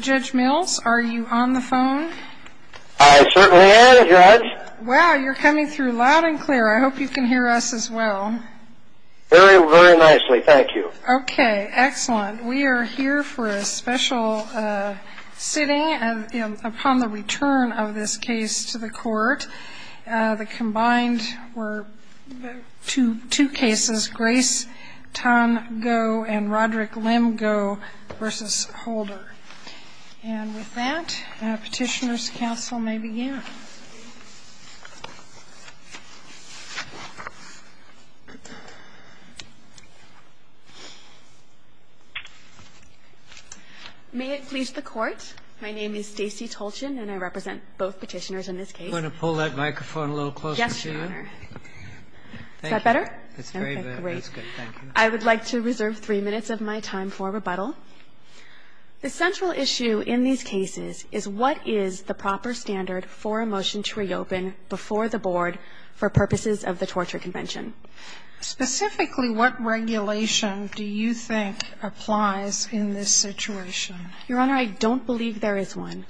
Judge Mills, are you on the phone? I certainly am, Judge. Wow, you're coming through loud and clear. I hope you can hear us as well. Very, very nicely. Thank you. Okay, excellent. We are here for a special sitting upon the return of this case to the court. The combined were two cases, Grace Tan Go and Roderick Lim Go v. Holder. And with that, Petitioners' Council may begin. May it please the Court, my name is Stacey Tolchin and I represent both petitioners in this case. I'm going to pull that microphone a little closer to you. Yes, Your Honor. Is that better? That's great. That's good. Thank you. I would like to reserve three minutes of my time for rebuttal. The central issue in these cases is what is the proper standard for a motion to reopen before the Board for purposes of the Torture Convention? Specifically, what regulation do you think applies in this situation? Your Honor, I don't believe there is one.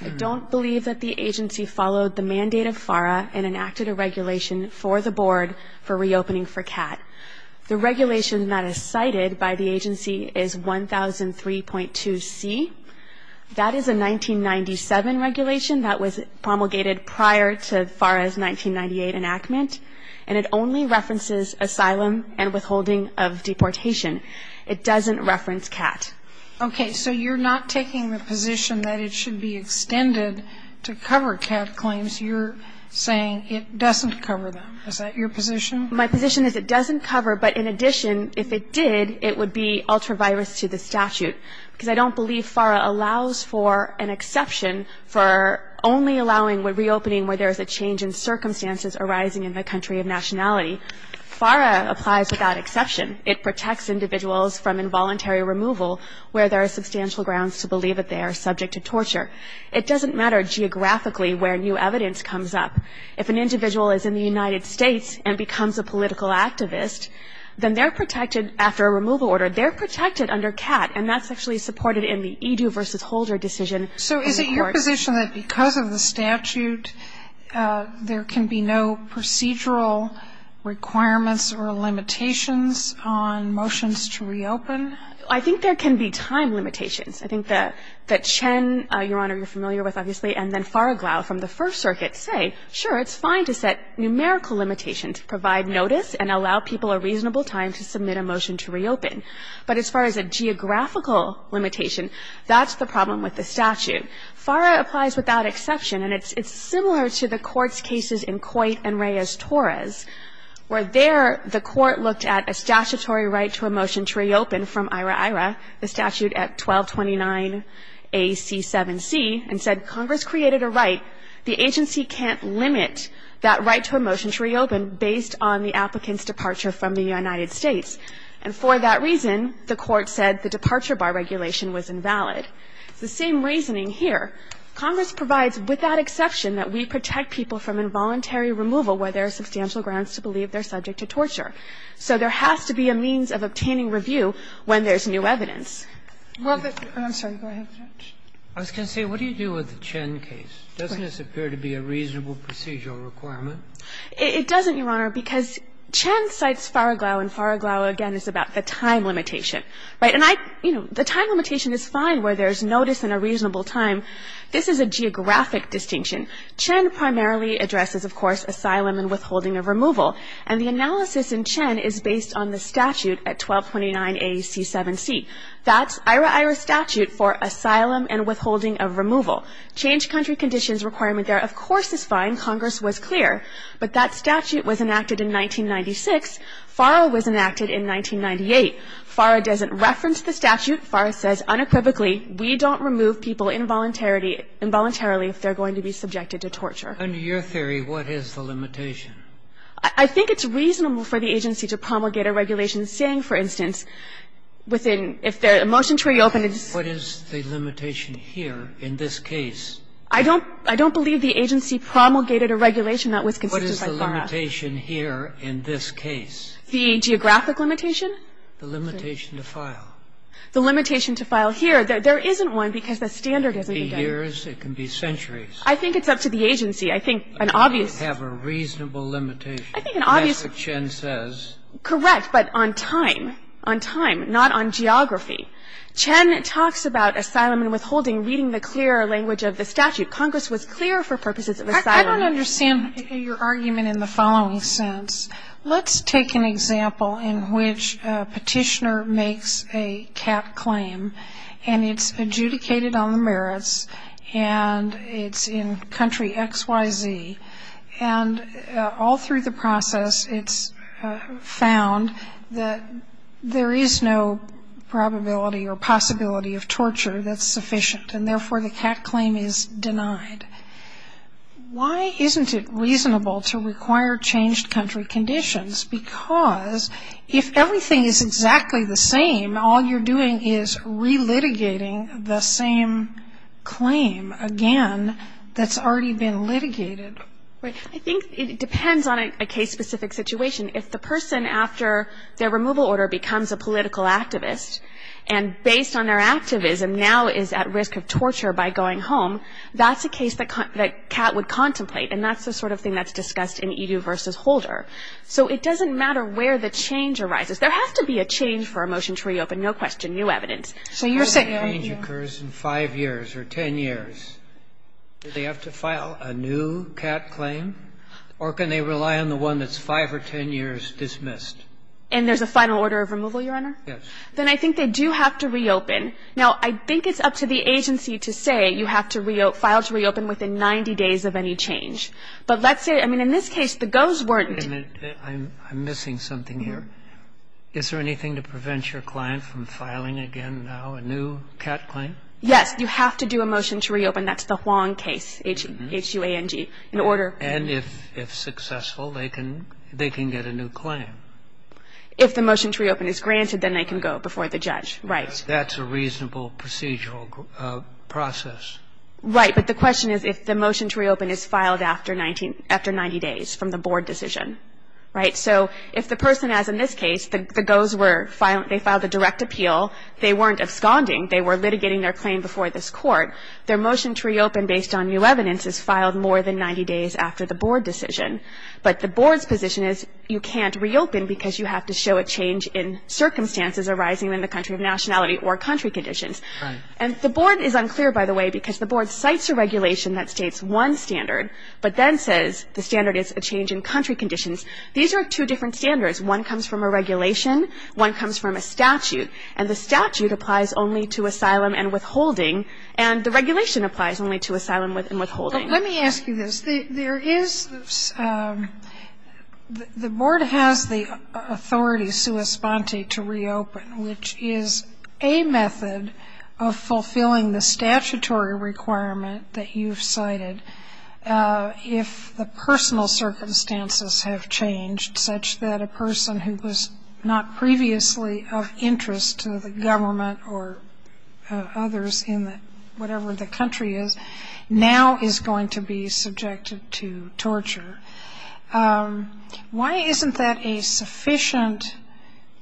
I don't believe that the agency followed the mandate of FARA and enacted a regulation for the Board for reopening for CAT. The regulation that is cited by the agency is 1003.2c. That is a 1997 regulation that was promulgated prior to FARA's 1998 enactment, and it only references asylum and withholding of deportation. It doesn't reference CAT. Okay. So you're not taking the position that it should be extended to cover CAT claims. You're saying it doesn't cover them. Is that your position? My position is it doesn't cover, but in addition, if it did, it would be ultra-virus to the statute. Because I don't believe FARA allows for an exception for only allowing reopening where there is a change in circumstances arising in the country of nationality. FARA applies without exception. It protects individuals from involuntary removal where there are substantial grounds to believe that they are subject to torture. It doesn't matter geographically where new evidence comes up. If an individual is in the United States and becomes a political activist, then they're protected after a removal order. They're protected under CAT, and that's actually supported in the Edu v. Holder decision. So is it your position that because of the statute, there can be no procedural requirements or limitations on motions to reopen? I think there can be time limitations. I think that Chen, Your Honor, you're familiar with, obviously, and then FARA-GLOW from the First Circuit say, sure, it's fine to set numerical limitations, provide notice, and allow people a reasonable time to submit a motion to reopen. But as far as a geographical limitation, that's the problem with the statute. FARA applies without exception. And it's similar to the Court's cases in Coit and Reyes-Torres, where there the Court looked at a statutory right to a motion to reopen from IRA-IRA, the statute at 1229AC7C, and said Congress created a right. The agency can't limit that right to a motion to reopen based on the applicant's departure from the United States. And for that reason, the Court said the departure bar regulation was invalid. It's the same reasoning here. Congress provides without exception that we protect people from involuntary removal where there are substantial grounds to believe they're subject to torture. So there has to be a means of obtaining review when there's new evidence. I'm sorry. Go ahead, Judge. I was going to say, what do you do with the Chen case? Doesn't this appear to be a reasonable procedural requirement? It doesn't, Your Honor, because Chen cites FARA-GLOW, and FARA-GLOW, again, is about the time limitation. Right? And I, you know, the time limitation is fine where there's notice and a reasonable time. This is a geographic distinction. Chen primarily addresses, of course, asylum and withholding of removal. And the analysis in Chen is based on the statute at 1229AC7C. That's IRA-IRA statute for asylum and withholding of removal. Change country conditions requirement there, of course, is fine. Congress was clear. But that statute was enacted in 1996. FARA was enacted in 1998. FARA doesn't reference the statute. FARA says unequivocally, we don't remove people involuntarily if they're going to be subjected to torture. Under your theory, what is the limitation? I think it's reasonable for the agency to promulgate a regulation saying, for instance, within the motion to reopen. What is the limitation here in this case? I don't believe the agency promulgated a regulation that was considered by FARA. What is the limitation here in this case? The geographic limitation? The limitation to file. The limitation to file here. There isn't one because the standard isn't there. It can be years. It can be centuries. I think it's up to the agency. I think an obvious. Have a reasonable limitation. I think an obvious. That's what Chen says. Correct, but on time. On time, not on geography. Chen talks about asylum and withholding reading the clear language of the statute. Congress was clear for purposes of asylum. I don't understand your argument in the following sense. Let's take an example in which a petitioner makes a CAT claim, and it's adjudicated on the merits, and it's in country XYZ, and all through the process it's found that there is no probability or possibility of torture that's sufficient, and therefore the CAT claim is denied. Why isn't it reasonable to require changed country conditions? Because if everything is exactly the same, all you're doing is relitigating the same claim again that's already been litigated. I think it depends on a case-specific situation. If the person after their removal order becomes a political activist and based on their activism now is at risk of torture by going home, that's a case that CAT would contemplate, and that's the sort of thing that's discussed in Edu v. Holder. So it doesn't matter where the change arises. There has to be a change for a motion to reopen, no question, new evidence. So you're saying that change occurs in 5 years or 10 years. Do they have to file a new CAT claim, or can they rely on the one that's 5 or 10 years dismissed? And there's a final order of removal, Your Honor? Yes. Then I think they do have to reopen. Now, I think it's up to the agency to say you have to file to reopen within 90 days of any change. But let's say, I mean, in this case, the GOs weren't. I'm missing something here. Is there anything to prevent your client from filing again now a new CAT claim? Yes. You have to do a motion to reopen. That's the Huang case, H-U-A-N-G, in order. And if successful, they can get a new claim. If the motion to reopen is granted, then they can go before the judge, right. That's a reasonable procedural process. Right. But the question is if the motion to reopen is filed after 90 days from the board decision. Right? So if the person, as in this case, the GOs were filing the direct appeal, they weren't absconding. They were litigating their claim before this Court. Their motion to reopen based on new evidence is filed more than 90 days after the board decision. But the board's position is you can't reopen because you have to show a change in circumstances arising in the country of nationality or country conditions. Right. And the board is unclear, by the way, because the board cites a regulation that states one standard, but then says the standard is a change in country conditions. These are two different standards. One comes from a regulation. One comes from a statute. And the statute applies only to asylum and withholding, and the regulation applies only to asylum and withholding. Let me ask you this. There is the board has the authority, sua sponte, to reopen, which is a method of fulfilling the statutory requirement that you've cited. If the personal circumstances have changed such that a person who was not previously of interest to the government or others in whatever the country is now is going to be subjected to torture, why isn't that a sufficient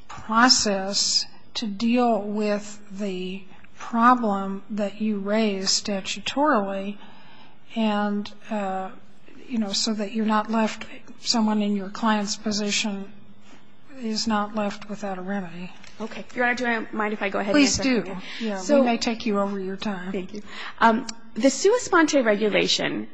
process to deal with the problem that you raise statutorily so that you're not left someone in your client's position is not left without a remedy? Okay. Your Honor, do I mind if I go ahead and answer that? Please do. We may take you over your time. Thank you. The sua sponte regulation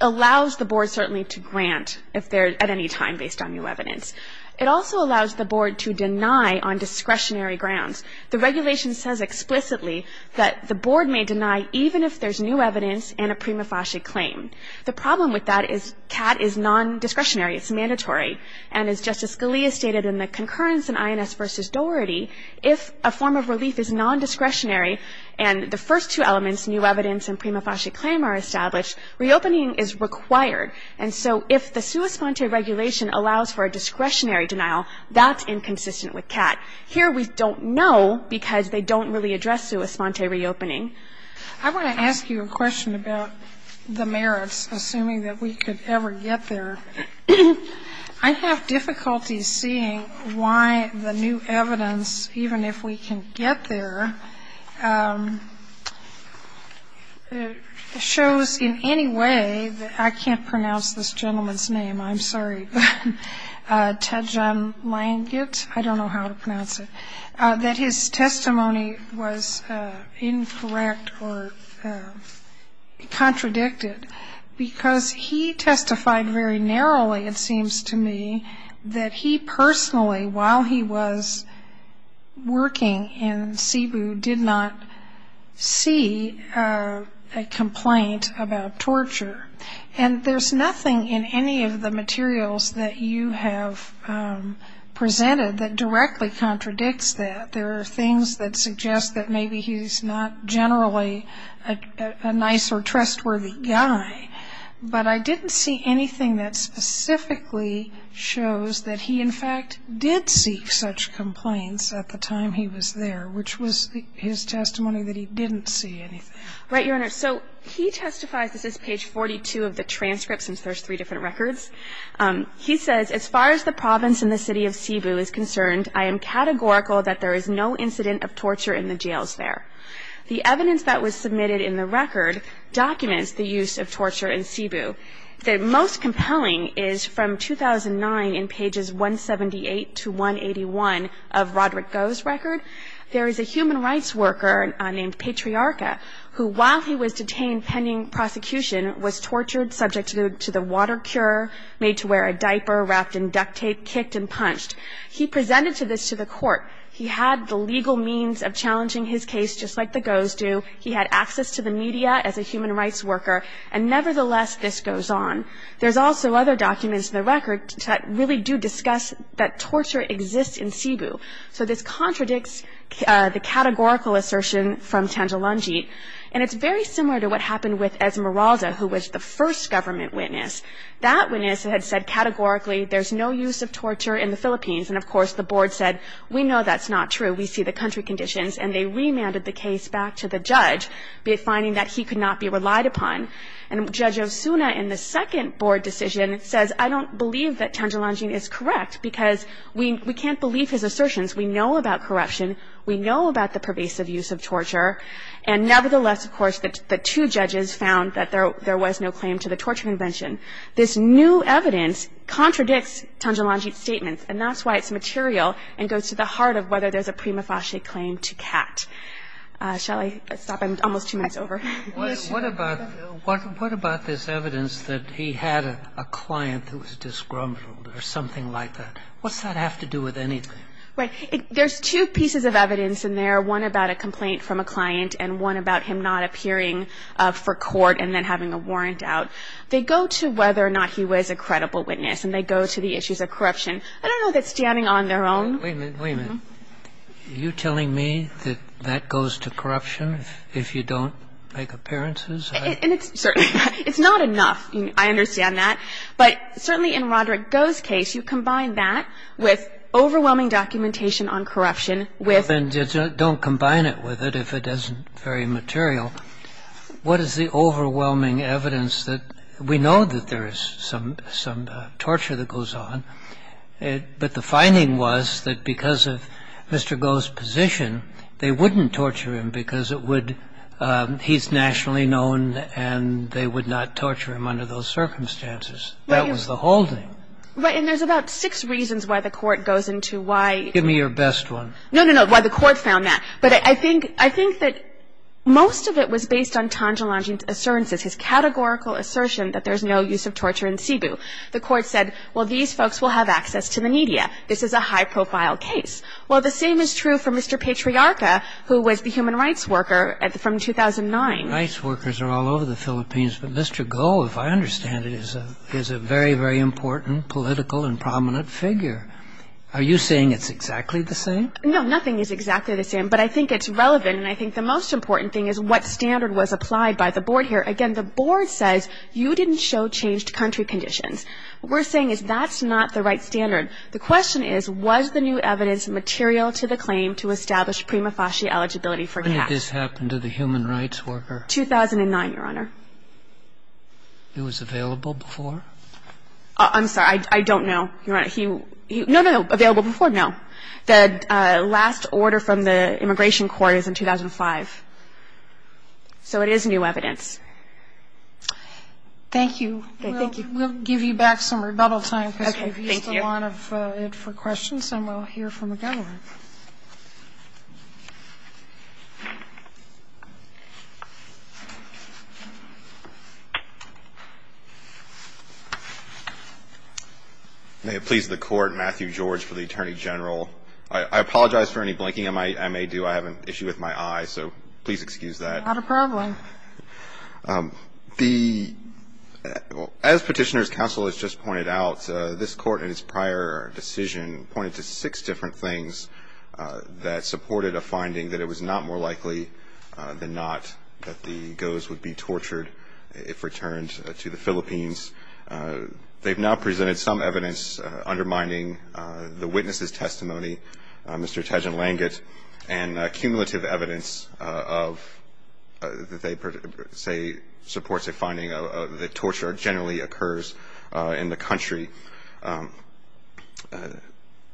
allows the board certainly to grant if there's at any time based on new evidence. It also allows the board to deny on discretionary grounds. The regulation says explicitly that the board may deny even if there's new evidence and a prima facie claim. The problem with that is CAT is nondiscretionary. It's mandatory. And as Justice Scalia stated in the concurrence in INS v. Doherty, if a form of relief is nondiscretionary and the first two elements, new evidence and prima facie claim, are established, reopening is required. And so if the sua sponte regulation allows for a discretionary denial, that's inconsistent with CAT. Here we don't know because they don't really address sua sponte reopening. I want to ask you a question about the merits, assuming that we could ever get there. I have difficulty seeing why the new evidence, even if we can get there, shows in any way that I can't pronounce this gentleman's name. I'm sorry. Tadjan Langit. I don't know how to pronounce it. That his testimony was incorrect or contradicted because he testified very narrowly it seems to me that he personally, while he was working in Cebu, did not see a complaint about torture. And there's nothing in any of the materials that you have presented that directly contradicts that. There are things that suggest that maybe he's not generally a nice or trustworthy guy. But I didn't see anything that specifically shows that he, in fact, did seek such complaints at the time he was there, which was his testimony that he didn't see anything. Right, Your Honor. So he testifies, this is page 42 of the transcript since there's three different records. He says, as far as the province and the city of Cebu is concerned, I am categorical that there is no incident of torture in the jails there. The evidence that was submitted in the record documents the use of torture in Cebu. The most compelling is from 2009 in pages 178 to 181 of Roderick Goh's record. There is a human rights worker named Patriarca who, while he was detained pending prosecution, was tortured subject to the water cure, made to wear a diaper wrapped in duct tape, kicked and punched. He presented this to the court. He had the legal means of challenging his case, just like the Gohs do. He had access to the media as a human rights worker. And nevertheless, this goes on. There's also other documents in the record that really do discuss that torture exists in Cebu. So this contradicts the categorical assertion from Tangelangit. And it's very similar to what happened with Esmeralda, who was the first government witness. That witness had said categorically there's no use of torture in the Philippines. And, of course, the board said, we know that's not true. We see the country conditions. And they remanded the case back to the judge, finding that he could not be relied upon. And Judge Osuna in the second board decision says, I don't believe that Tangelangit is correct because we can't believe his assertions. We know about corruption. We know about the pervasive use of torture. And nevertheless, of course, the two judges found that there was no claim to the torture convention. This new evidence contradicts Tangelangit's statements. And that's why it's material and goes to the heart of whether there's a prima facie claim to CAT. Shall I stop? I'm almost two minutes over. What about this evidence that he had a client who was disgruntled or something like that? What's that have to do with anything? Right. There's two pieces of evidence in there, one about a complaint from a client and one about him not appearing for court and then having a warrant out. They go to whether or not he was a credible witness and they go to the issues of corruption. I don't know that standing on their own ---- Wait a minute. Wait a minute. Are you telling me that that goes to corruption if you don't make appearances? And it's certainly not. It's not enough. I understand that. But certainly in Roderick Goh's case, you combine that with overwhelming documentation on corruption with ---- Well, then don't combine it with it if it isn't very material. What is the overwhelming evidence that we know that there is some torture that goes on, but the finding was that because of Mr. Goh's position, they wouldn't torture him because it would ---- he's nationally known and they would not torture him under those circumstances. That was the holding. Right. And there's about six reasons why the Court goes into why ---- Give me your best one. No, no, no. Why the Court found that. But I think that most of it was based on Tanja Longin's assurances, his categorical assertion that there's no use of torture in Cebu. The Court said, well, these folks will have access to the media. This is a high-profile case. Well, the same is true for Mr. Patriarca, who was the human rights worker from 2009. Human rights workers are all over the Philippines, but Mr. Goh, if I understand it, is a very, very important political and prominent figure. Are you saying it's exactly the same? No, nothing is exactly the same. But I think it's relevant, and I think the most important thing is what standard was applied by the Board here. Again, the Board says you didn't show changed country conditions. What we're saying is that's not the right standard. The question is, was the new evidence material to the claim to establish prima facie eligibility for cash? When did this happen to the human rights worker? 2009, Your Honor. He was available before? I'm sorry. I don't know, Your Honor. He ---- no, no, no. Available before? The last order from the Immigration Court is in 2005. So it is new evidence. Thank you. Thank you. We'll give you back some rebuttal time because we've used a lot of it for questions, and we'll hear from the government. May it please the Court, Matthew George for the Attorney General. I apologize for any blinking I may do. I have an issue with my eye, so please excuse that. Not a problem. As Petitioner's Counsel has just pointed out, this Court in its prior decision pointed to six different things that supported a finding that it was not more likely than not that the GOs would be tortured if returned to the Philippines. They've now presented some evidence undermining the witness's testimony, Mr. Tejan Langit, and cumulative evidence that they say supports a finding that torture generally occurs in the country.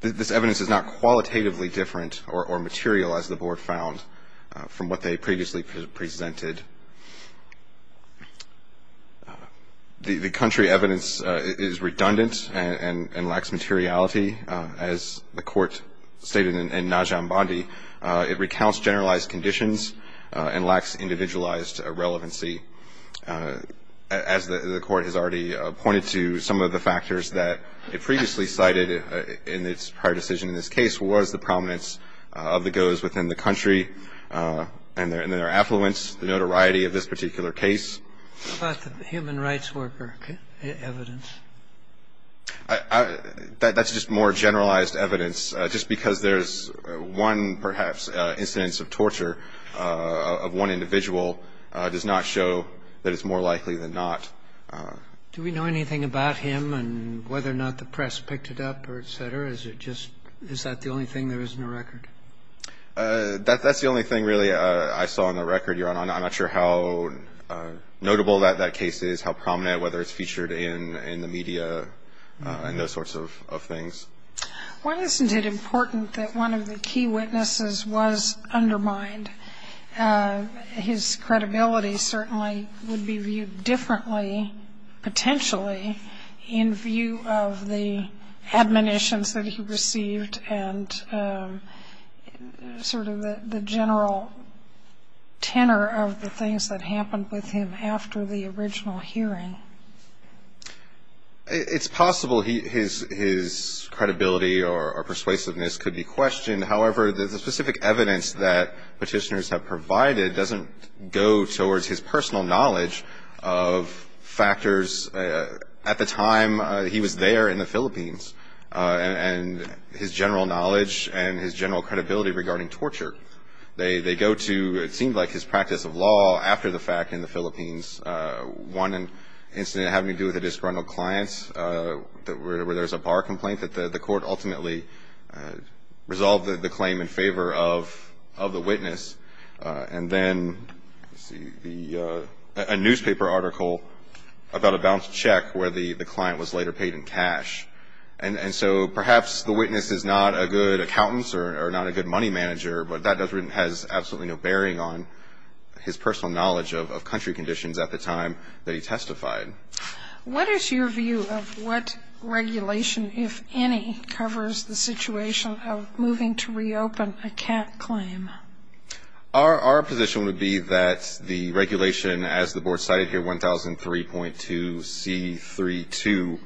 This evidence is not qualitatively different or material as the Board found from what they previously presented. The country evidence is redundant and lacks materiality. As the Court stated in Najambandi, it recounts generalized conditions and lacks individualized relevancy. As the Court has already pointed to, some of the factors that it previously cited in its prior decision in this case was the prominence of the GOs within the country and their affluence. The first is the notoriety of this particular case. What about the human rights worker evidence? That's just more generalized evidence. Just because there's one, perhaps, incidence of torture of one individual does not show that it's more likely than not. Do we know anything about him and whether or not the press picked it up or et cetera? Is it just – is that the only thing there is in the record? That's the only thing really I saw in the record, Your Honor. I'm not sure how notable that case is, how prominent, whether it's featured in the media and those sorts of things. Why isn't it important that one of the key witnesses was undermined? It's possible his credibility or persuasiveness could be questioned. However, the specific evidence that Petitioners have provided doesn't go towards his personal knowledge of factors associated with torture at the time he was there in the Philippines and his general knowledge and his general credibility regarding torture. They go to, it seemed like, his practice of law after the fact in the Philippines, one incident having to do with a disgruntled client where there's a bar complaint that the court ultimately resolved the claim in favor of the witness. And then, let's see, a newspaper article about a bounced check where the client was later paid in cash. And so perhaps the witness is not a good accountant or not a good money manager, but that has absolutely no bearing on his personal knowledge of country conditions at the time that he testified. What is your view of what regulation, if any, covers the situation of moving to reopen a cat claim? Our position would be that the regulation, as the Board cited here, 1003.2C32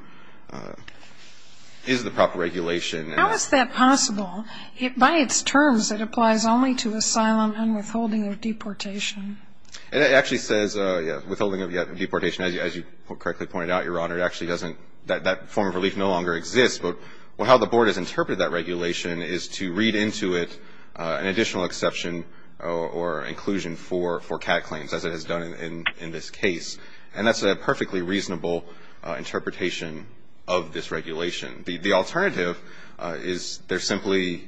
is the proper regulation. How is that possible? By its terms, it applies only to asylum and withholding of deportation. It actually says, yeah, withholding of deportation. As you correctly pointed out, Your Honor, it actually doesn't. That form of relief no longer exists. But how the Board has interpreted that regulation is to read into it an additional exception or inclusion for cat claims, as it has done in this case. And that's a perfectly reasonable interpretation of this regulation. The alternative is there's simply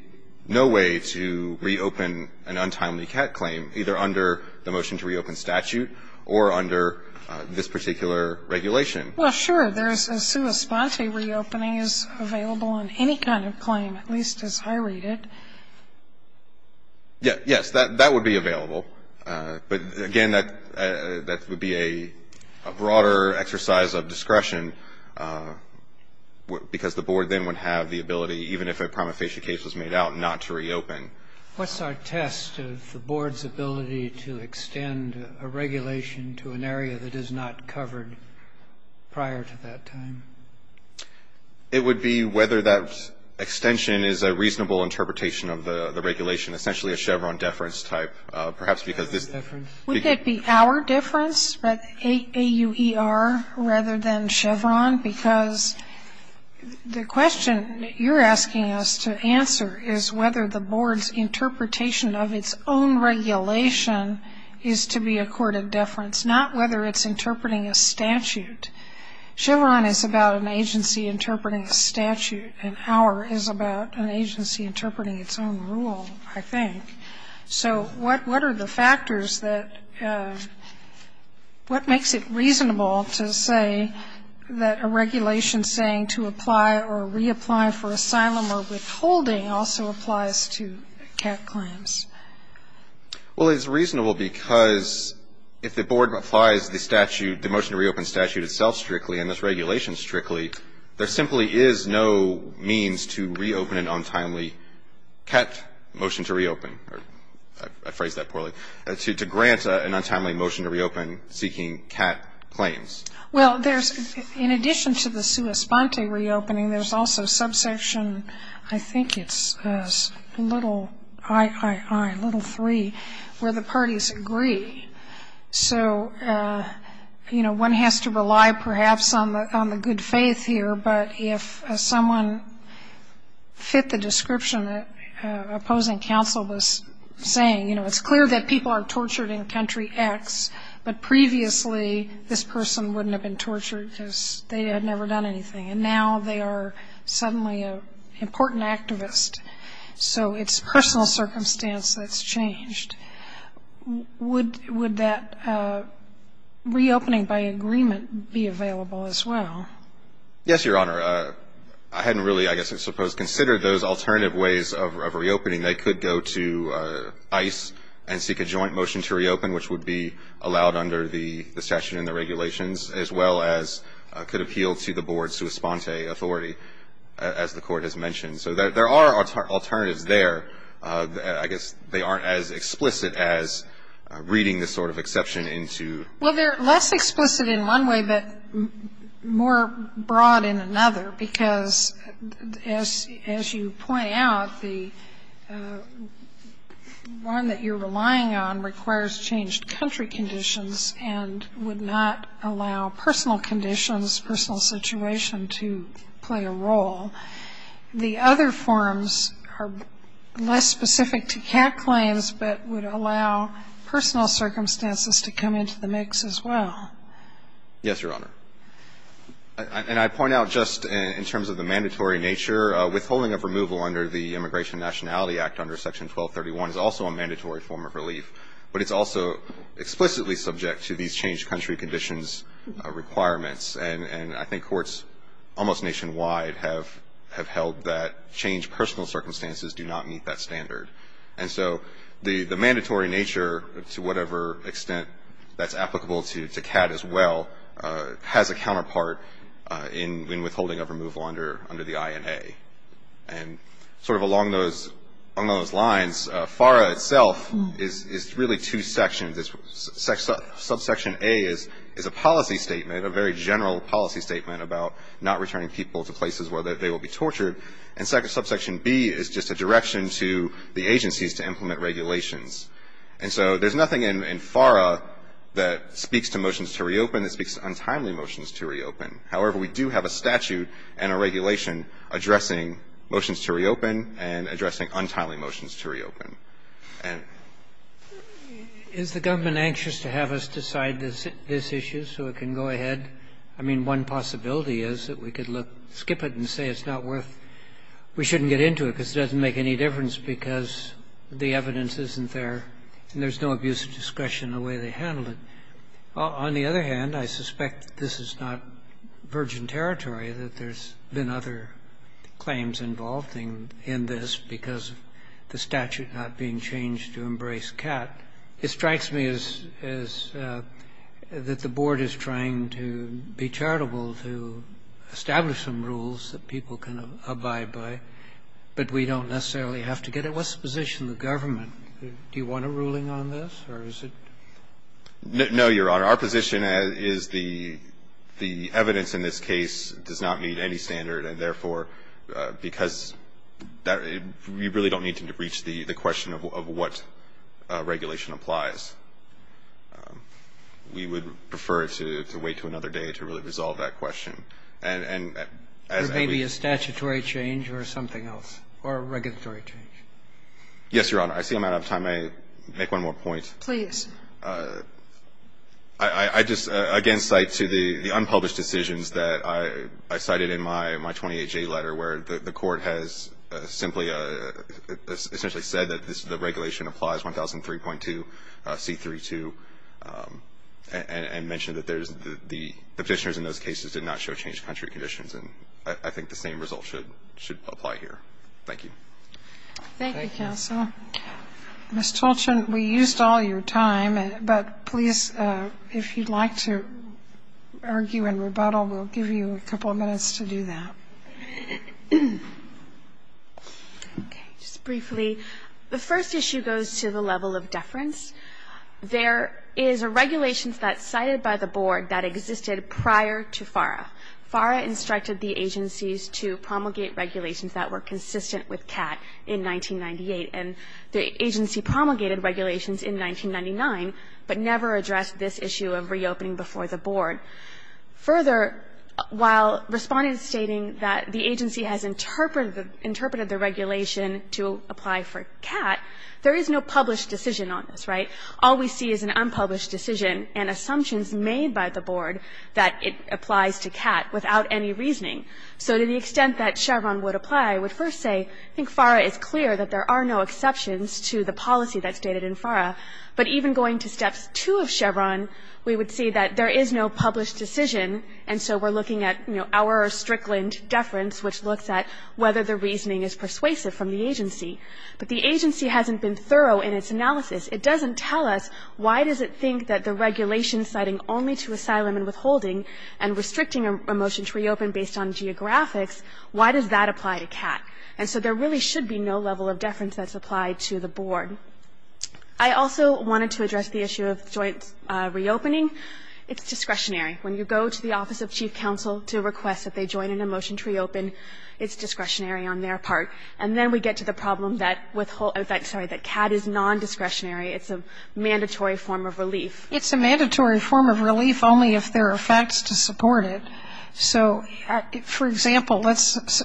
no way to reopen an untimely cat claim, either under the motion to reopen statute or under this particular regulation. Well, sure, there's a sua sponte reopening is available in any kind of claim, at least as I read it. Yes, that would be available. But, again, that would be a broader exercise of discretion, because the Board then would have the ability, even if a prima facie case was made out, not to reopen. What's our test of the Board's ability to extend a regulation to an area that is not covered prior to that time? It would be whether that extension is a reasonable interpretation of the regulation, essentially a Chevron deference type, perhaps because this difference. Would it be our deference, but A-U-E-R, rather than Chevron? Because the question you're asking us to answer is whether the Board's interpretation of its own regulation is to be a court of deference, not whether it's interpreting a statute. Chevron is about an agency interpreting a statute, and A-U-E-R is about an agency interpreting its own rule, I think. So what are the factors that, what makes it reasonable to say that a regulation saying to apply or reapply for asylum or withholding also applies to cat claims? Well, it's reasonable because if the Board applies the statute, the motion to reopen statute itself strictly and this regulation strictly, there simply is no means to reopen an untimely cat motion to reopen, or I phrased that poorly, to grant an untimely motion to reopen seeking cat claims. Well, there's, in addition to the sua sponte reopening, there's also subsection, I think it's little III, little three, where the parties agree. So, you know, one has to rely perhaps on the good faith here, but if someone fit the description that opposing counsel was saying, you know, it's clear that people are tortured in country X, but previously this person wouldn't have been tortured because they had never done anything. And now they are suddenly an important activist. So it's personal circumstance that's changed. Would that reopening by agreement be available as well? Yes, Your Honor. I hadn't really, I guess I suppose, considered those alternative ways of reopening. They could go to ICE and seek a joint motion to reopen, which would be allowed under the statute and the regulations, as well as could appeal to the board's sua sponte authority, as the Court has mentioned. So there are alternatives there. I guess they aren't as explicit as reading this sort of exception into. Well, they're less explicit in one way, but more broad in another, because as you point out, the one that you're relying on requires changed country conditions and would not allow personal conditions, personal situation to play a role. The other forms are less specific to cat claims, but would allow personal circumstances to come into the mix as well. Yes, Your Honor. And I point out just in terms of the mandatory nature, withholding of removal under the Immigration Nationality Act under Section 1231 is also a mandatory form of relief, but it's also explicitly subject to these changed country conditions requirements. And I think courts almost nationwide have held that changed personal circumstances do not meet that standard. And so the mandatory nature, to whatever extent that's applicable to cat as well, has a counterpart in withholding of removal under the INA. And sort of along those lines, FARA itself is really two sections. Subsection A is a policy statement, a very general policy statement about not returning people to places where they will be tortured. And Subsection B is just a direction to the agencies to implement regulations. And so there's nothing in FARA that speaks to motions to reopen that speaks to untimely motions to reopen. However, we do have a statute and a regulation addressing motions to reopen and addressing untimely motions to reopen. motions to reopen. Roberts. Is the government anxious to have us decide this issue so it can go ahead? I mean, one possibility is that we could look, skip it and say it's not worth we shouldn't get into it because it doesn't make any difference because the evidence isn't there and there's no abuse of discretion in the way they handled it. On the other hand, I suspect this is not virgin territory, that there's been other claims involved in this because the statute not being changed to embrace cat. It strikes me as that the board is trying to be charitable to establish some rules that people can abide by, but we don't necessarily have to get it. Well, let's position the government. Do you want a ruling on this or is it? No, Your Honor. Our position is the evidence in this case does not meet any standard, and therefore because that we really don't need to reach the question of what regulation applies. We would prefer to wait to another day to really resolve that question. There may be a statutory change or something else, or a regulatory change. Yes, Your Honor. I see I'm out of time. May I make one more point? Please. I just again cite to the unpublished decisions that I cited in my 28J letter where the Court has simply essentially said that the regulation applies, 1003.2c32, and mentioned that the Petitioners in those cases did not show change of country conditions, and I think the same result should apply here. Thank you. Thank you, counsel. Ms. Tolchin, we used all your time, but please, if you'd like to argue in rebuttal, we'll give you a couple of minutes to do that. Okay. Just briefly, the first issue goes to the level of deference. There is a regulation that's cited by the Board that existed prior to FARA. FARA instructed the agencies to promulgate regulations that were consistent with CAT in 1998, and the agency promulgated regulations in 1999, but never addressed this issue of reopening before the Board. Further, while Respondent is stating that the agency has interpreted the regulation to apply for CAT, there is no published decision on this, right? All we see is an unpublished decision and assumptions made by the Board that it applies to CAT without any reasoning. So to the extent that Chevron would apply, I would first say I think FARA is clear that there are no exceptions to the policy that's stated in FARA, but even going to Steps 2 of Chevron, we would see that there is no published decision, and so we're looking at our Strickland deference, which looks at whether the reasoning is persuasive from the agency. But the agency hasn't been thorough in its analysis. It doesn't tell us why does it think that the regulation citing only to asylum and withholding and restricting a motion to reopen based on geographics, why does that apply to CAT? And so there really should be no level of deference that's applied to the Board. I also wanted to address the issue of joint reopening. It's discretionary. When you go to the Office of Chief Counsel to request that they join in a motion to reopen, it's discretionary on their part. And then we get to the problem that withholding, sorry, that CAT is nondiscretionary. It's a mandatory form of relief. It's a mandatory form of relief only if there are facts to support it. So, for example, let's,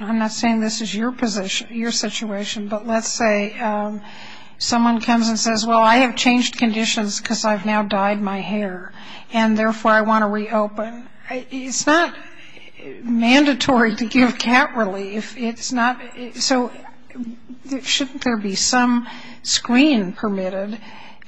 I'm not saying this is your position, your situation, but let's say someone comes and says, well, I have changed conditions because I've now dyed my hair, and therefore I want to reopen. It's not mandatory to give CAT relief. It's not. So shouldn't there be some screen permitted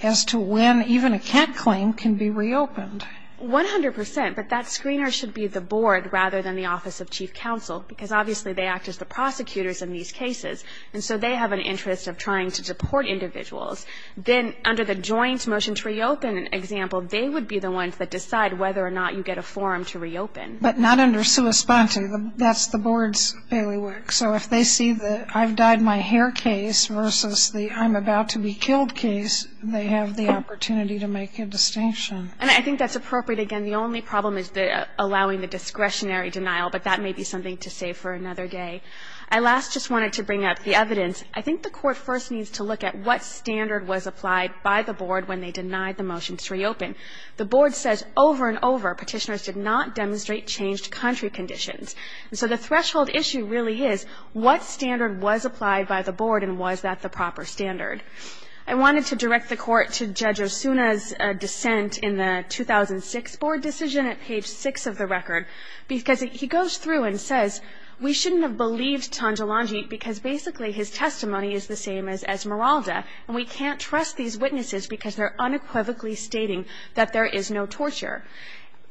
as to when even a CAT claim can be reopened? 100 percent, but that screener should be the Board rather than the Office of Chief Counsel, because obviously they act as the prosecutors in these cases, and so they have an interest of trying to support individuals. Then under the joint motion to reopen example, they would be the ones that decide whether or not you get a form to reopen. But not under sua sponte. That's the Board's bailiwick. So if they see the I've dyed my hair case versus the I'm about to be killed case, they have the opportunity to make a distinction. And I think that's appropriate. Again, the only problem is allowing the discretionary denial, but that may be something to save for another day. I last just wanted to bring up the evidence. I think the Court first needs to look at what standard was applied by the Board when they denied the motion to reopen. The Board says over and over petitioners did not demonstrate changed country conditions. And so the threshold issue really is what standard was applied by the Board and was that the proper standard? I wanted to direct the Court to Judge Osuna's dissent in the 2006 Board decision at page 6 of the record, because he goes through and says we shouldn't have believed Tanjalanji because basically his testimony is the same as Esmeralda, and we can't trust these witnesses because they're unequivocally stating that there is no torture.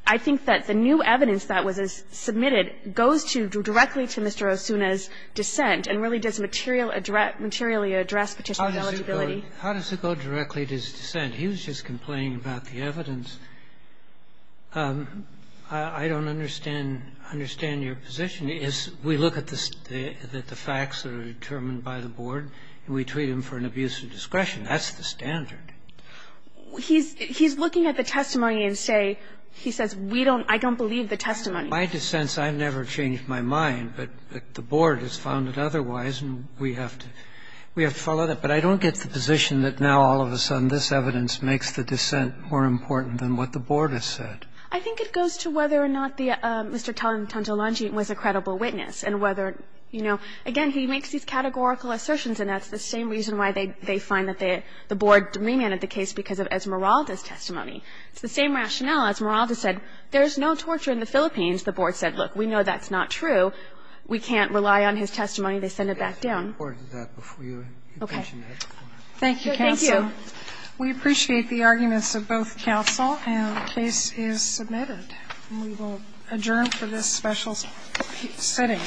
I think that the new evidence that was submitted goes to directly to Mr. Osuna's dissent and really does materially address petitioner's eligibility. How does it go directly to his dissent? He was just complaining about the evidence. I don't understand your position. We look at the facts that are determined by the Board and we treat them for an abuse of discretion. That's the standard. He's looking at the testimony and say, he says, I don't believe the testimony. My dissents, I've never changed my mind, but the Board has found it otherwise and we have to follow that. But I don't get the position that now all of a sudden this evidence makes the dissent more important than what the Board has said. I think it goes to whether or not Mr. Tanjalanji was a credible witness and whether you know, again, he makes these categorical assertions and that's the same reason why they find that the Board remanded the case because of Esmeralda's testimony. It's the same rationale. Esmeralda said there is no torture in the Philippines. The Board said, look, we know that's not true. We can't rely on his testimony. They send it back down. Thank you, counsel. Thank you. We appreciate the arguments of both counsel and the case is submitted. We will adjourn for this special sitting.